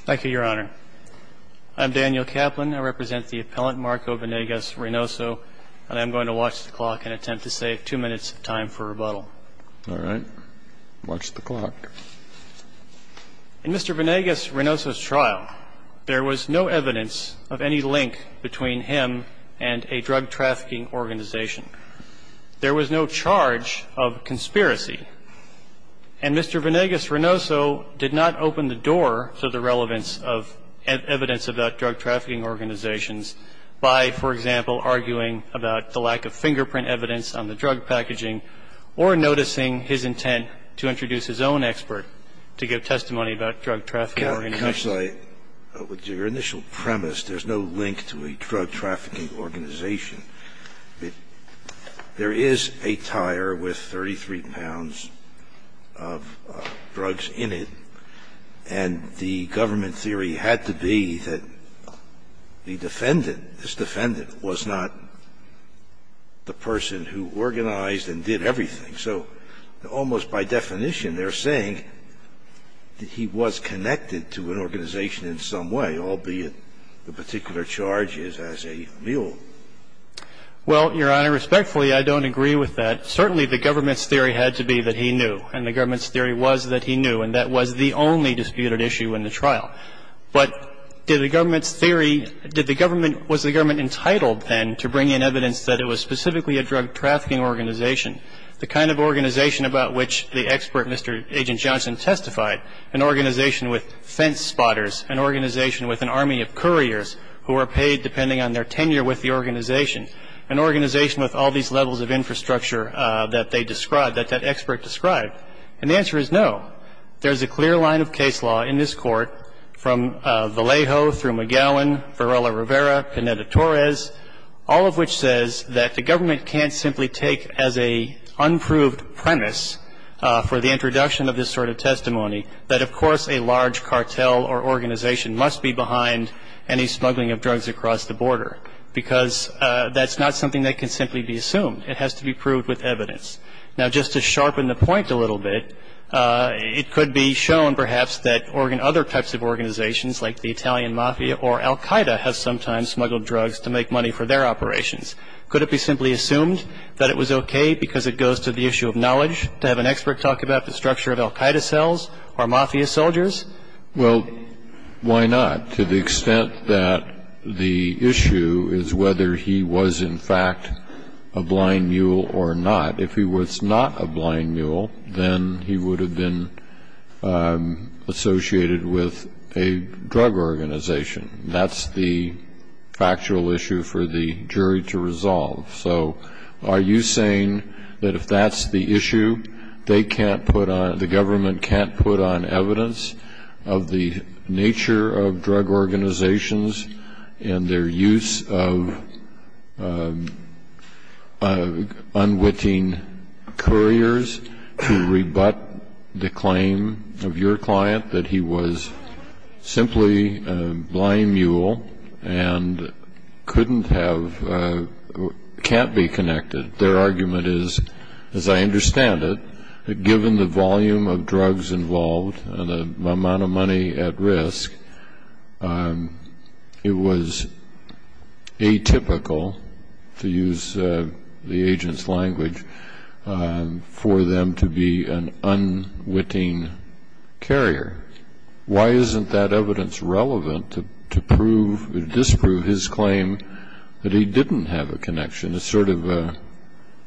Thank you, Your Honor. I'm Daniel Kaplan. I represent the appellant Marco Venegas-Reynoso, and I'm going to watch the clock and attempt to save two minutes of time for rebuttal. All right. Watch the clock. In Mr. Venegas-Reynoso's trial, there was no evidence of any link between him and a drug trafficking organization. There was no charge of conspiracy. And Mr. Venegas-Reynoso did not open the door to the relevance of evidence about drug trafficking organizations by, for example, arguing about the lack of fingerprint evidence on the drug packaging or noticing his intent to introduce his own expert to give testimony about drug trafficking organizations. Sotomayor, with your initial premise, there's no link to a drug trafficking organization. There is a tire with 33 pounds of drugs in it, and the government theory had to be that the defendant, this defendant, was not the person who organized and did everything. So almost by definition, they're saying that he was connected to an organization in some way, albeit the particular charge is as a mule. Well, Your Honor, respectfully, I don't agree with that. Certainly, the government's theory had to be that he knew, and the government's theory was that he knew, and that was the only disputed issue in the trial. But did the government's theory – did the government – was the government entitled then to bring in evidence that it was specifically a drug trafficking organization? The kind of organization about which the expert, Mr. Agent Johnson, testified, an organization with fence spotters, an organization with an army of couriers who are paid depending on their tenure with the organization, an organization with all these levels of infrastructure that they described, that that expert described? And the answer is no. There's a clear line of case law in this Court from Vallejo through McGowan, Varela-Rivera, Pineda-Torres, all of which says that the government can't simply take as a unproved premise for the introduction of this sort of testimony that, of course, a large cartel or organization must be behind any smuggling of drugs across the border, because that's not something that can simply be assumed. It has to be proved with evidence. Now, just to sharpen the point a little bit, it could be shown, perhaps, that other types of organizations, like the Italian Mafia or Al-Qaeda, have sometimes smuggled drugs to make money for their operations. Could it be simply assumed that it was okay, because it goes to the issue of knowledge, to have an expert talk about the structure of Al-Qaeda cells or Mafia soldiers? Well, why not? To the extent that the issue is whether he was, in fact, a blind mule or not. If he was not a blind mule, then he would have been associated with a drug organization. That's the factual issue for the jury to resolve. So are you saying that if that's the issue, the government can't put on evidence of the nature of drug organizations and their use of unwitting couriers to rebut the claim of your client that he was simply a blind mule and can't be connected? Their argument is, as I understand it, given the volume of drugs involved and the amount of money at risk, it was atypical, to use the agent's language, for them to be an unwitting carrier. Why isn't that evidence relevant to disprove his claim that he didn't have a connection? It's sort of a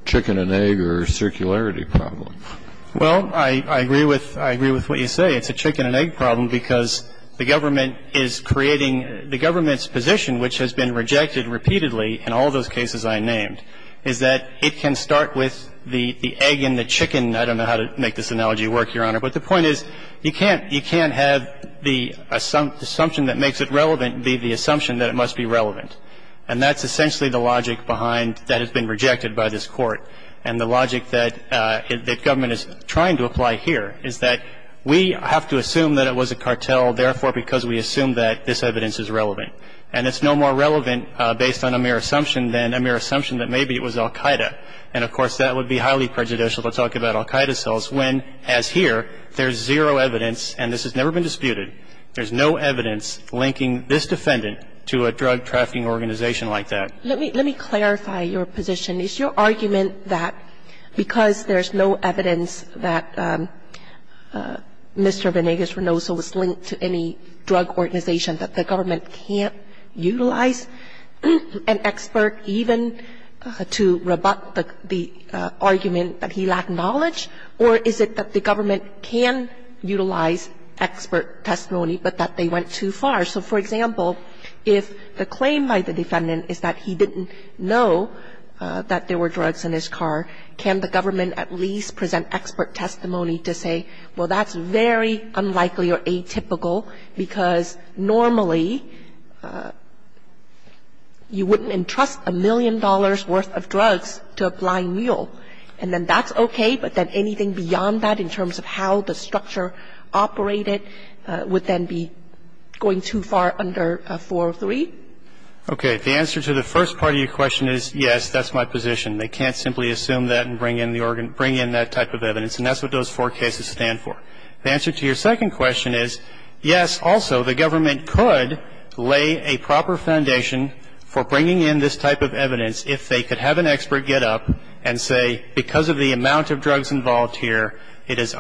chicken and egg or circularity problem. Well, I agree with what you say. It's a chicken and egg problem because the government is creating the government's position, which has been rejected repeatedly in all those cases I named, is that it can start with the egg and the chicken. I don't know how to make this analogy work, Your Honor. But the point is, you can't have the assumption that makes it relevant be the assumption that it must be relevant. And that's essentially the logic behind that has been rejected by this Court. And the logic that government is trying to apply here is that we have to assume that it was a cartel, therefore, because we assume that this evidence is relevant. And it's no more relevant based on a mere assumption than a mere assumption that maybe it was al Qaeda. And, of course, that would be highly prejudicial to talk about al Qaeda cells when, as here, there's zero evidence, and this has never been disputed, there's no evidence linking this defendant to a drug-trafficking organization like that. Let me clarify your position. Is your argument that because there's no evidence that Mr. Venegas-Renoso was linked to any drug organization, that the government can't utilize an expert even to rebut the argument that he lacked knowledge? Or is it that the government can utilize expert testimony, but that they went too far? So, for example, if the claim by the defendant is that he didn't know that there were drugs in his car, can the government at least present expert testimony to say, well, that's very unlikely or atypical because normally you wouldn't entrust a million dollars' worth of drugs to a blind mule, and then that's okay, but then anything beyond that in terms of how the structure operated would then be going too far under 403? Okay. The answer to the first part of your question is, yes, that's my position. They can't simply assume that and bring in the organ or bring in that type of evidence, and that's what those four cases stand for. The answer to your second question is, yes, also, the government could lay a proper foundation for bringing in this type of evidence if they could have an expert get up and say, because of the amount of drugs involved here, it is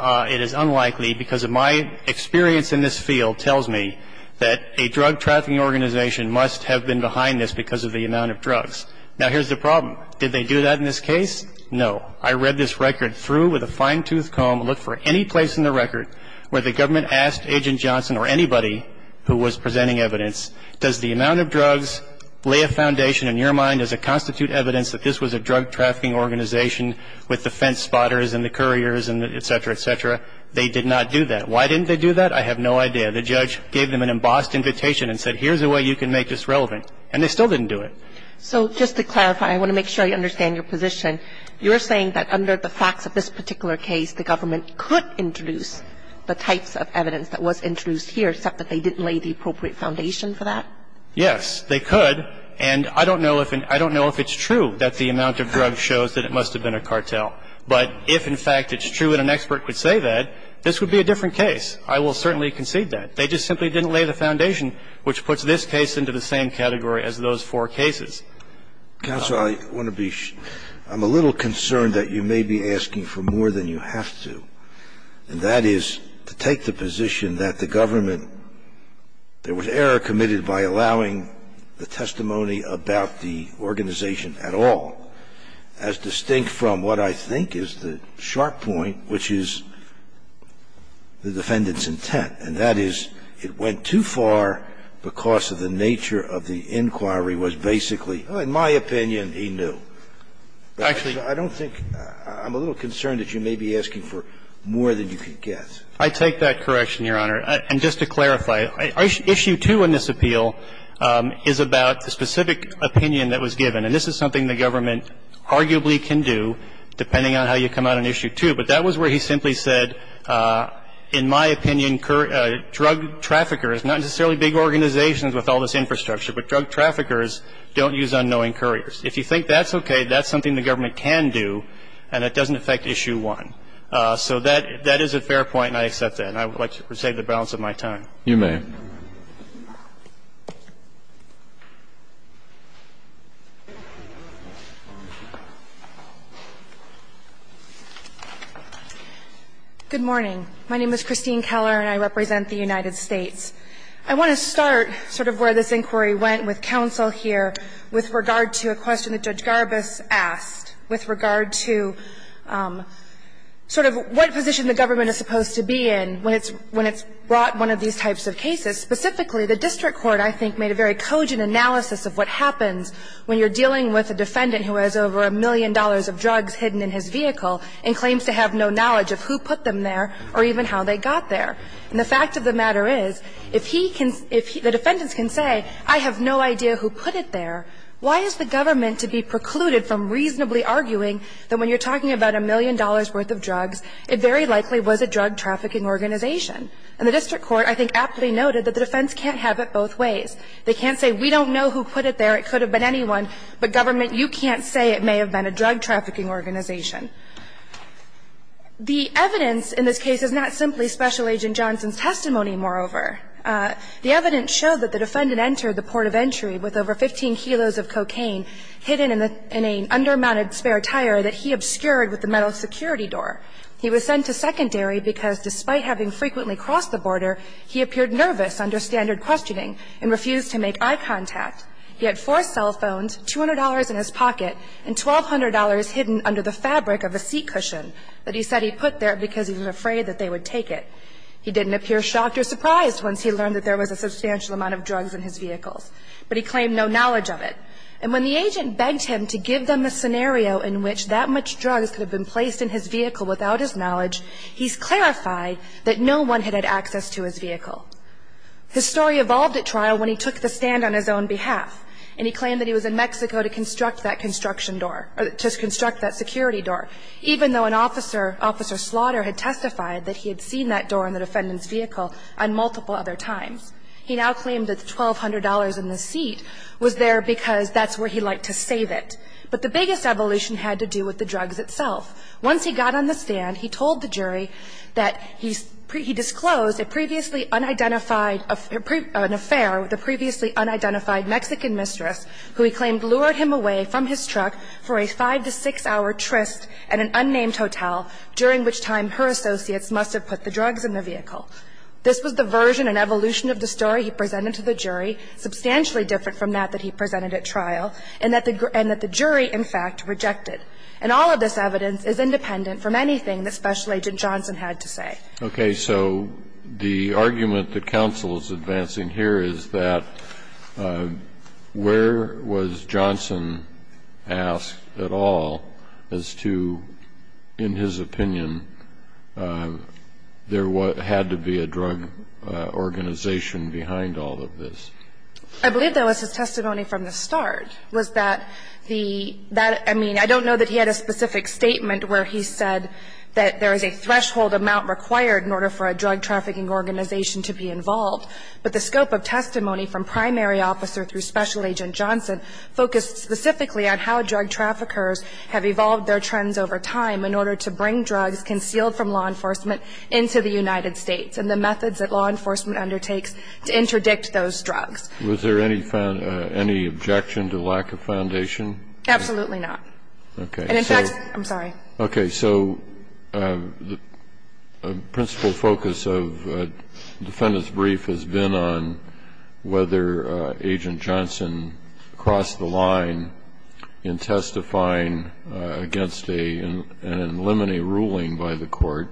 unlikely because of my experience in this field tells me that a drug trafficking organization must have been behind this because of the amount of drugs. Now, here's the problem. Did they do that in this case? No. I read this record through with a fine-toothed comb and looked for any place in the record where the government asked Agent Johnson or anybody who was presenting evidence, does the amount of drugs lay a foundation in your mind as a constitute evidence that this was a drug trafficking organization with the fence spotters and the couriers and et cetera, et cetera? They did not do that. Why didn't they do that? I have no idea. The judge gave them an embossed invitation and said, here's a way you can make this relevant. And they still didn't do it. So just to clarify, I want to make sure I understand your position. You're saying that under the facts of this particular case, the government could introduce the types of evidence that was introduced here, except that they didn't lay the appropriate foundation for that? Yes, they could. And I don't know if it's true that the amount of drugs shows that it must have been a cartel. But if, in fact, it's true and an expert could say that, this would be a different case. I will certainly concede that. They just simply didn't lay the foundation which puts this case into the same category as those four cases. Counsel, I want to be sure. I'm a little concerned that you may be asking for more than you have to, and that is to take the position that the government, there was error committed by allowing the testimony about the organization at all, as distinct from what I think is the sharp point, which is the defendant's intent, and that is it went too far because of the nature of the inquiry was basically, in my opinion, he knew. Actually. I don't think – I'm a little concerned that you may be asking for more than you can I take that correction, Your Honor. And just to clarify, Issue 2 in this appeal is about the specific opinion that was given, and this is something the government arguably can do, depending on how you come out on Issue 2. But that was where he simply said, in my opinion, drug traffickers, not necessarily big organizations with all this infrastructure, but drug traffickers don't use unknowing couriers. If you think that's okay, that's something the government can do, and it doesn't affect Issue 1. So that is a fair point, and I accept that. And I would like to retain the balance of my time. You may. Good morning. My name is Christine Keller, and I represent the United States. I want to start sort of where this inquiry went with counsel here with regard to a question that Judge Garbus asked with regard to sort of what position the government is supposed to be in when it's – when it's brought one of these types of cases. Specifically, the district court, I think, made a very cogent analysis of what happens when you're dealing with a defendant who has over a million dollars of drugs hidden in his vehicle and claims to have no knowledge of who put them there or even how they got there. And the fact of the matter is, if he can – if the defendants can say, I have no idea who put it there, why is the government to be precluded from reasonably arguing that when you're talking about a million dollars' worth of drugs, it very likely was a drug trafficking organization? And the district court, I think, aptly noted that the defense can't have it both ways. They can't say, we don't know who put it there. It could have been anyone. But, government, you can't say it may have been a drug trafficking organization. The evidence in this case is not simply Special Agent Johnson's testimony, moreover. The evidence showed that the defendant entered the port of entry with over 15 kilos of cocaine hidden in a undermounted spare tire that he obscured with the metal security door. He was sent to secondary because, despite having frequently crossed the border, he appeared nervous under standard questioning and refused to make eye contact. He had four cell phones, $200 in his pocket, and $1,200 hidden under the fabric of a seat cushion that he said he put there because he was afraid that they would take it. He didn't appear shocked or surprised once he learned that there was a substantial amount of drugs in his vehicles, but he claimed no knowledge of it. And when the agent begged him to give them a scenario in which that much drugs could have been placed in his vehicle without his knowledge, he's clarified that no one had had access to his vehicle. His story evolved at trial when he took the stand on his own behalf, and he claimed that he was in Mexico to construct that construction door, to construct that security door, even though an officer, Officer Slaughter, had testified that he had seen that door in the defendant's vehicle on multiple other times. He now claimed that the $1,200 in the seat was there because that's where he liked to save it. But the biggest evolution had to do with the drugs itself. Once he got on the stand, he told the jury that he disclosed a previously unidentified affair with a previously unidentified Mexican mistress who he claimed lured him away from his truck for a five-to-six-hour tryst at an unnamed hotel, during which time her associates must have put the drugs in the vehicle. This was the version and evolution of the story he presented to the jury, substantially different from that that he presented at trial, and that the jury, in fact, rejected. And all of this evidence is independent from anything that Special Agent Johnson had to say. Kennedy, so the argument that counsel is advancing here is that where was Johnson asked at all as to, in his opinion, there had to be a drug organization behind all of this? I believe that was his testimony from the start, was that the ñ I mean, I don't know that he had a specific statement where he said that there is a threshold amount required in order for a drug trafficking organization to be involved. But the scope of testimony from primary officer through Special Agent Johnson focused specifically on how drug traffickers have evolved their trends over time in order to bring drugs concealed from law enforcement into the United States and the methods that law enforcement undertakes to interdict those drugs. Was there any objection to lack of foundation? Absolutely not. Okay. And in fact ñ I'm sorry. Okay. So the principal focus of the defendant's brief has been on whether Agent Johnson crossed the line in testifying against a ñ in limiting a ruling by the Court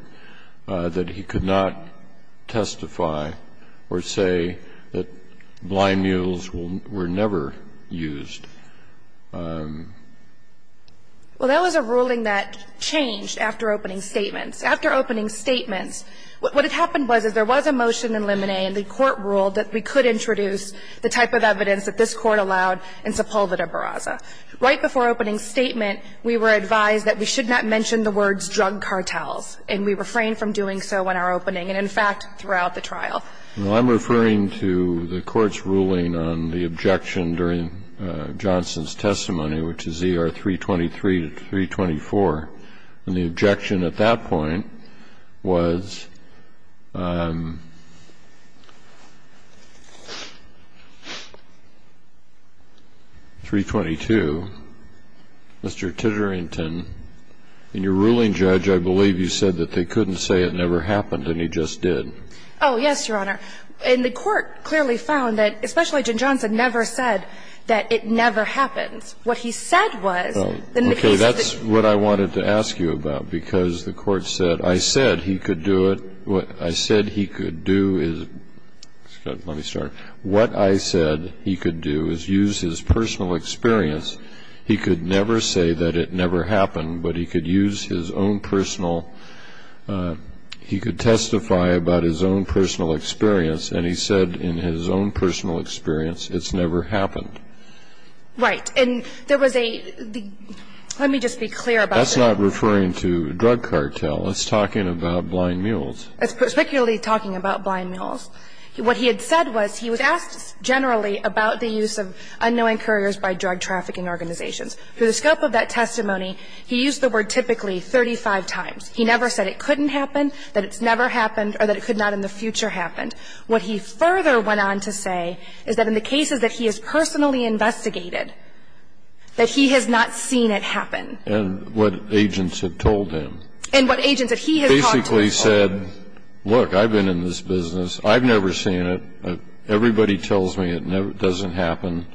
that he could not testify or say that blind mules were never used. Well, that was a ruling that changed after opening statements. After opening statements, what had happened was, is there was a motion in Limine and the Court ruled that we could introduce the type of evidence that this Court allowed in Sepulveda Barraza. Right before opening statement, we were advised that we should not mention the words drug cartels. And we refrained from doing so in our opening and, in fact, throughout the trial. Well, I'm referring to the Court's ruling on the objection during Johnson's testimony, which is ER 323 to 324. And the objection at that point was 322. Mr. Titterington, in your ruling, Judge, I believe you said that they couldn't say it never happened and he just did. Oh, yes, Your Honor. And the Court clearly found that Special Agent Johnson never said that it never happens. What he said was, in the case of the ñ Okay. That's what I wanted to ask you about, because the Court said, I said he could do it. What I said he could do is ñ excuse me. Let me start. What I said he could do is use his personal experience. He could never say that it never happened, but he could use his own personal ñ he could testify about his own personal experience, and he said in his own personal experience it's never happened. Right. And there was a ñ let me just be clear about this. That's not referring to drug cartels. It's talking about blind mules. It's particularly talking about blind mules. What he had said was he was asked generally about the use of unknowing couriers by drug trafficking organizations. Through the scope of that testimony, he used the word typically 35 times. He never said it couldn't happen, that it's never happened, or that it could not in the future happen. What he further went on to say is that in the cases that he has personally investigated, that he has not seen it happen. And what agents have told him. And what agents that he has talked to have told him. Basically said, look, I've been in this business. I've never seen it. Everybody tells me it doesn't happen.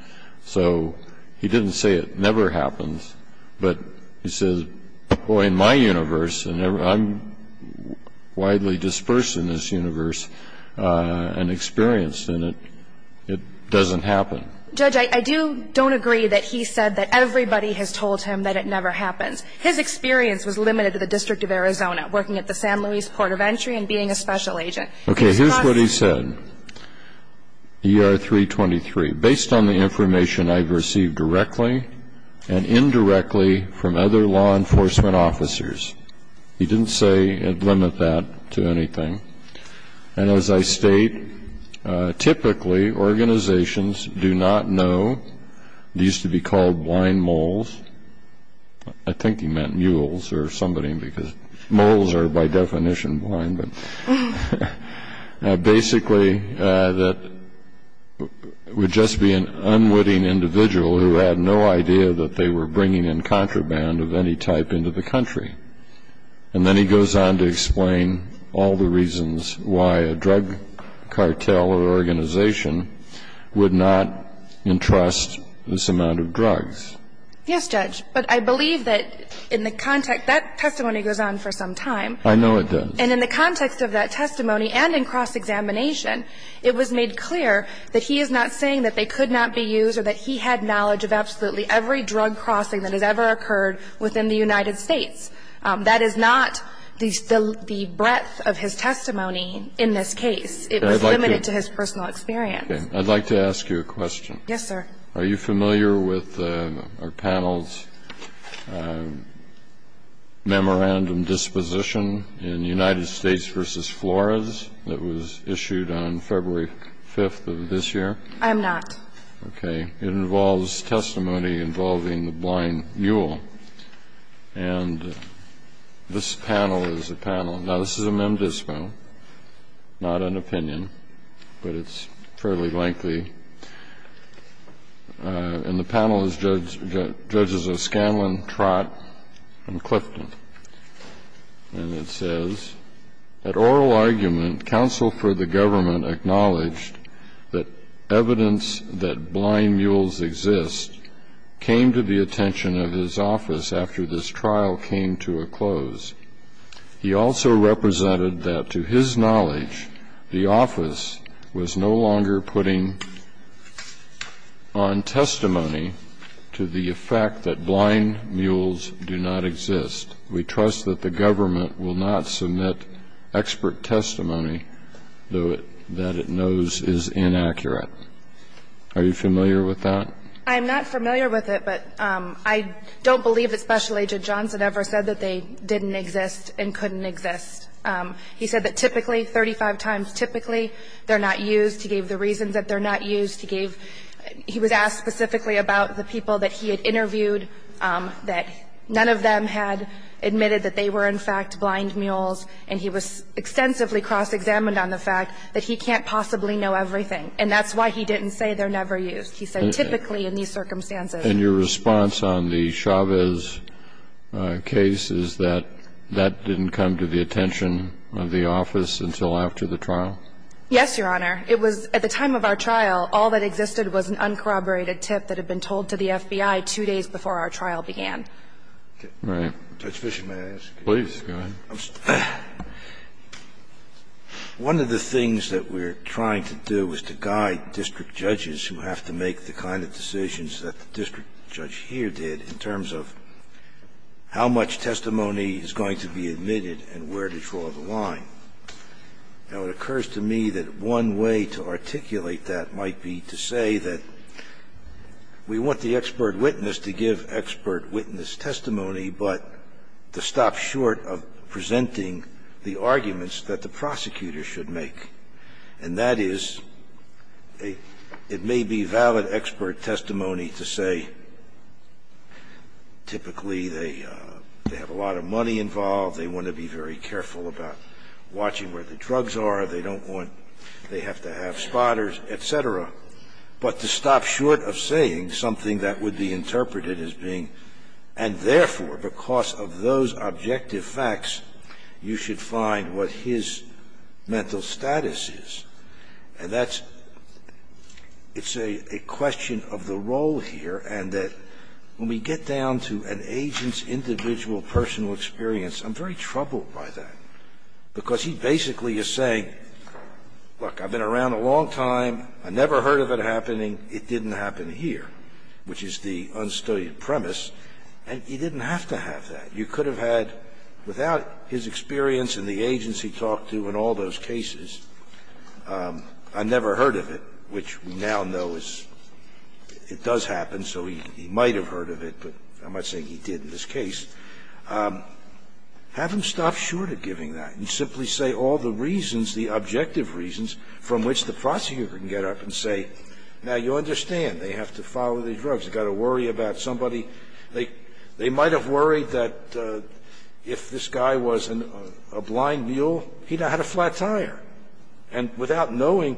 So he didn't say it never happens. But he says, boy, in my universe, and I'm widely dispersed in this universe and experienced in it, it doesn't happen. Judge, I do don't agree that he said that everybody has told him that it never happens. His experience was limited to the District of Arizona, working at the San Luis Port of Entry and being a special agent. Okay. Here's what he said. ER-323, based on the information I've received directly and indirectly from other law enforcement officers. He didn't say and limit that to anything. And as I state, typically organizations do not know. It used to be called blind moles. I think he meant mules or somebody, because moles are by definition blind. But basically that would just be an unwitting individual who had no idea that they were bringing in contraband of any type into the country. And then he goes on to explain all the reasons why a drug cartel or organization would not entrust this amount of drugs. Yes, Judge. But I believe that in the context, that testimony goes on for some time. I know it does. And in the context of that testimony and in cross-examination, it was made clear that he is not saying that they could not be used or that he had knowledge of absolutely every drug crossing that has ever occurred within the United States. That is not the breadth of his testimony in this case. It was limited to his personal experience. Okay. I'd like to ask you a question. Yes, sir. Are you familiar with our panel's memorandum disposition in United States v. Flores that was issued on February 5th of this year? I'm not. Okay. It involves testimony involving the blind mule. And this panel is a panel. Now, this is a mem dispo, not an opinion, but it's fairly lengthy. And the panel is judges of Scanlon, Trott, and Clifton. And it says, At oral argument, counsel for the government acknowledged that evidence that blind mules exist came to the attention of his office after this trial came to a close. He also represented that, to his knowledge, the office was no longer putting on testimony to the effect that blind mules do not exist. We trust that the government will not submit expert testimony that it knows is inaccurate. Are you familiar with that? I'm not familiar with it, but I don't believe that Special Agent Johnson ever said that they didn't exist and couldn't exist. He said that typically, 35 times typically, they're not used. He gave the reasons that they're not used. He gave he was asked specifically about the people that he had interviewed, that none of them had admitted that they were, in fact, blind mules. And he was extensively cross-examined on the fact that he can't possibly know everything. And that's why he didn't say they're never used. He said typically in these circumstances. And your response on the Chavez case is that that didn't come to the attention of the office until after the trial? Yes, Your Honor. It was at the time of our trial, all that existed was an uncorroborated tip that had been told to the FBI two days before our trial began. Right. Judge Fischer, may I ask you a question? Please, go ahead. One of the things that we're trying to do is to guide district judges who have to make the kind of decisions that the district judge here did in terms of how much testimony is going to be admitted and where to draw the line. Now, it occurs to me that one way to articulate that might be to say that we want the expert witness to give expert witness testimony, but to stop short of presenting the arguments that the prosecutor should make, and that is, it may be valid expert testimony to say typically they have a lot of money involved, they want to be very careful about watching where the drugs are, they don't want to have spotters, et cetera, but to stop short of saying something that would be interpreted as being, and therefore, because of those objective facts, you should find what his mental status is. And that's – it's a question of the role here and that when we get down to an agent's individual personal experience, I'm very troubled by that, because he basically is saying, look, I've been around a long time, I never heard of it happening, it didn't happen here, which is the unstudied premise, and he didn't have to have that. You could have had, without his experience and the agents he talked to in all those cases, I never heard of it, which we now know is – it does happen, so he might have heard of it, but I'm not saying he did in this case. Have him stop short of giving that and simply say all the reasons, the objective reasons from which the prosecutor can get up and say, now, you understand, they have to follow these drugs, they've got to worry about somebody. They might have worried that if this guy was a blind mule, he'd have had a flat tire. And without knowing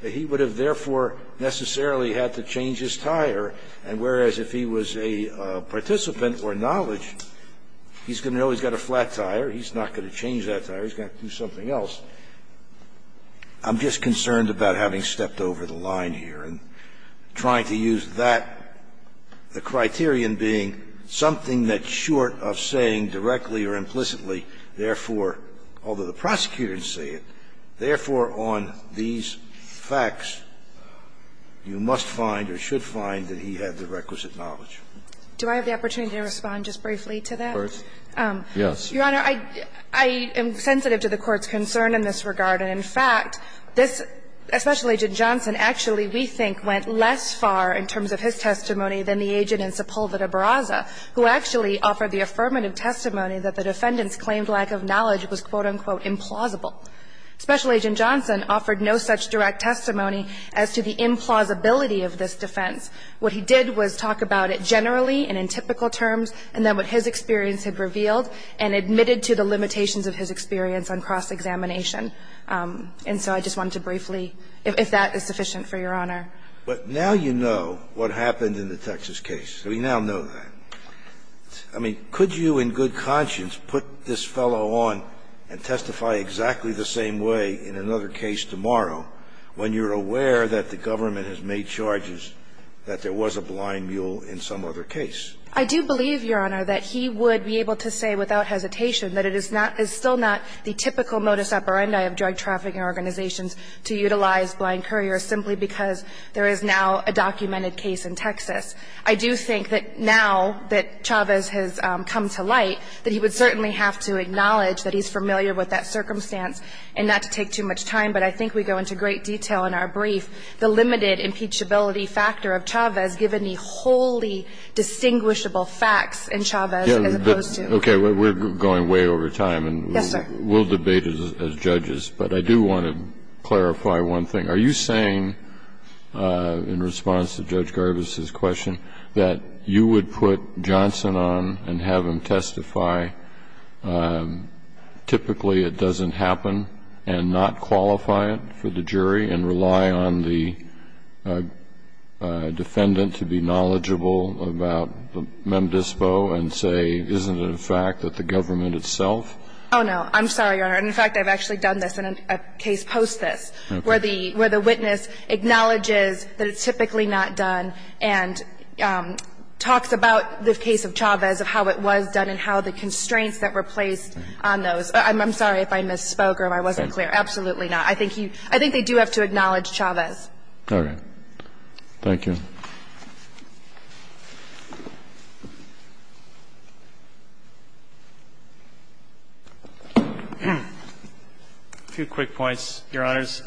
that he would have, therefore, necessarily had to change his tire, and whereas if he was a participant or knowledge, he's going to know he's got a flat tire, he's not going to change that tire, he's going to have to do something else. I'm just concerned about having stepped over the line here and trying to use that, the criterion being something that's short of saying directly or implicitly, therefore, although the prosecutors say it, therefore, on these facts, you must find or should find that he had the requisite knowledge. Do I have the opportunity to respond just briefly to that? Yes. Your Honor, I am sensitive to the Court's concern in this regard. And in fact, this, Special Agent Johnson actually, we think, went less far in terms of his testimony than the agent in Sepulveda-Barraza, who actually offered the affirmative testimony that the defendant's claimed lack of knowledge was, quote, unquote, implausible. Special Agent Johnson offered no such direct testimony as to the implausibility of this defense. What he did was talk about it generally and in typical terms, and then what his experience had revealed and admitted to the limitations of his experience on cross-examination. And so I just wanted to briefly, if that is sufficient for Your Honor. But now you know what happened in the Texas case. We now know that. I mean, could you in good conscience put this fellow on and testify exactly the same way in another case tomorrow when you're aware that the government has made charges that there was a blind mule in some other case? I do believe, Your Honor, that he would be able to say without hesitation that it is not, it's still not the typical modus operandi of drug trafficking organizations to utilize blind couriers simply because there is now a documented case in Texas. I do think that now that Chavez has come to light, that he would certainly have to acknowledge that he's familiar with that circumstance and not to take too much time. But I think we go into great detail in our brief, the limited impeachability factor of Chavez, given the wholly distinguishable facts in Chavez as opposed to. Okay. We're going way over time and we'll debate it as judges. But I do want to clarify one thing. Are you saying, in response to Judge Garbus' question, that you would put Johnson on and have him testify, typically it doesn't happen and not qualify it for the jury and rely on the defendant to be knowledgeable about the mem dispo and say, isn't it a fact that the government itself? Oh, no. I'm sorry, Your Honor. In fact, I've actually done this in a case post this, where the witness acknowledges that it's typically not done and talks about the case of Chavez, of how it was done and how the constraints that were placed on those. I'm sorry if I misspoke or if I wasn't clear. Absolutely not. I think you – I think they do have to acknowledge Chavez. All right. Thank you. A few quick points, Your Honors.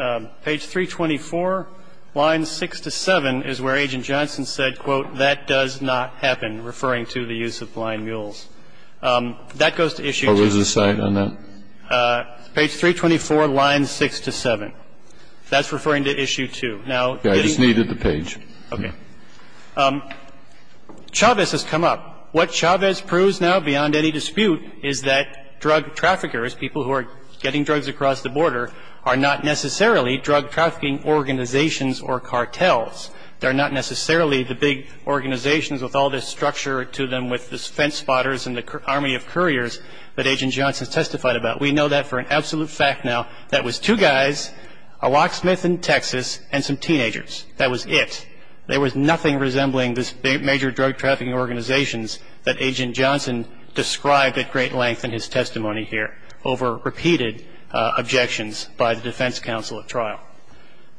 Page 324, lines 6 to 7, is where Agent Johnson said, quote, That does not happen, referring to the use of blind mules. That goes to issue 2. What was his side on that? Page 324, lines 6 to 7. That's referring to issue 2. Now, getting – I just needed the page. Okay. Chavez has come up. What Chavez proves now beyond any dispute is that drug traffickers, people who are getting drugs across the border, are not necessarily drug trafficking organizations or cartels. They're not necessarily the big organizations with all this structure to them with the fence spotters and the army of couriers that Agent Johnson testified about. We know that for an absolute fact now. That was two guys, a locksmith in Texas, and some teenagers. That was it. There was nothing resembling the major drug trafficking organizations that Agent Johnson described at great length in his testimony here over repeated objections by the defense counsel at trial.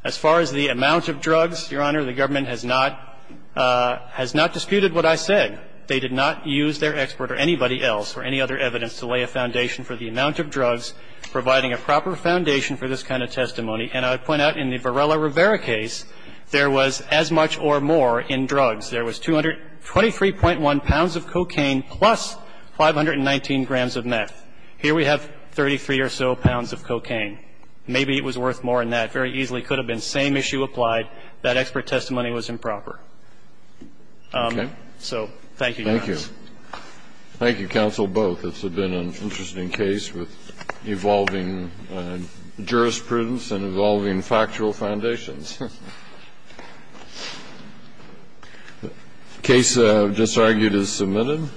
As far as the amount of drugs, Your Honor, the government has not – has not disputed what I said. They did not use their expert or anybody else or any other evidence to lay a foundation for the amount of drugs providing a proper foundation for this kind of testimony. And I would point out in the Varela Rivera case, there was as much or more in drugs. There was 223.1 pounds of cocaine plus 519 grams of meth. Here we have 33 or so pounds of cocaine. Maybe it was worth more than that. Very easily could have been same issue applied. That expert testimony was improper. Okay. So thank you, Your Honor. Thank you. Thank you, counsel, both. This has been an interesting case with evolving jurisprudence and evolving factual foundations. The case just argued is submitted.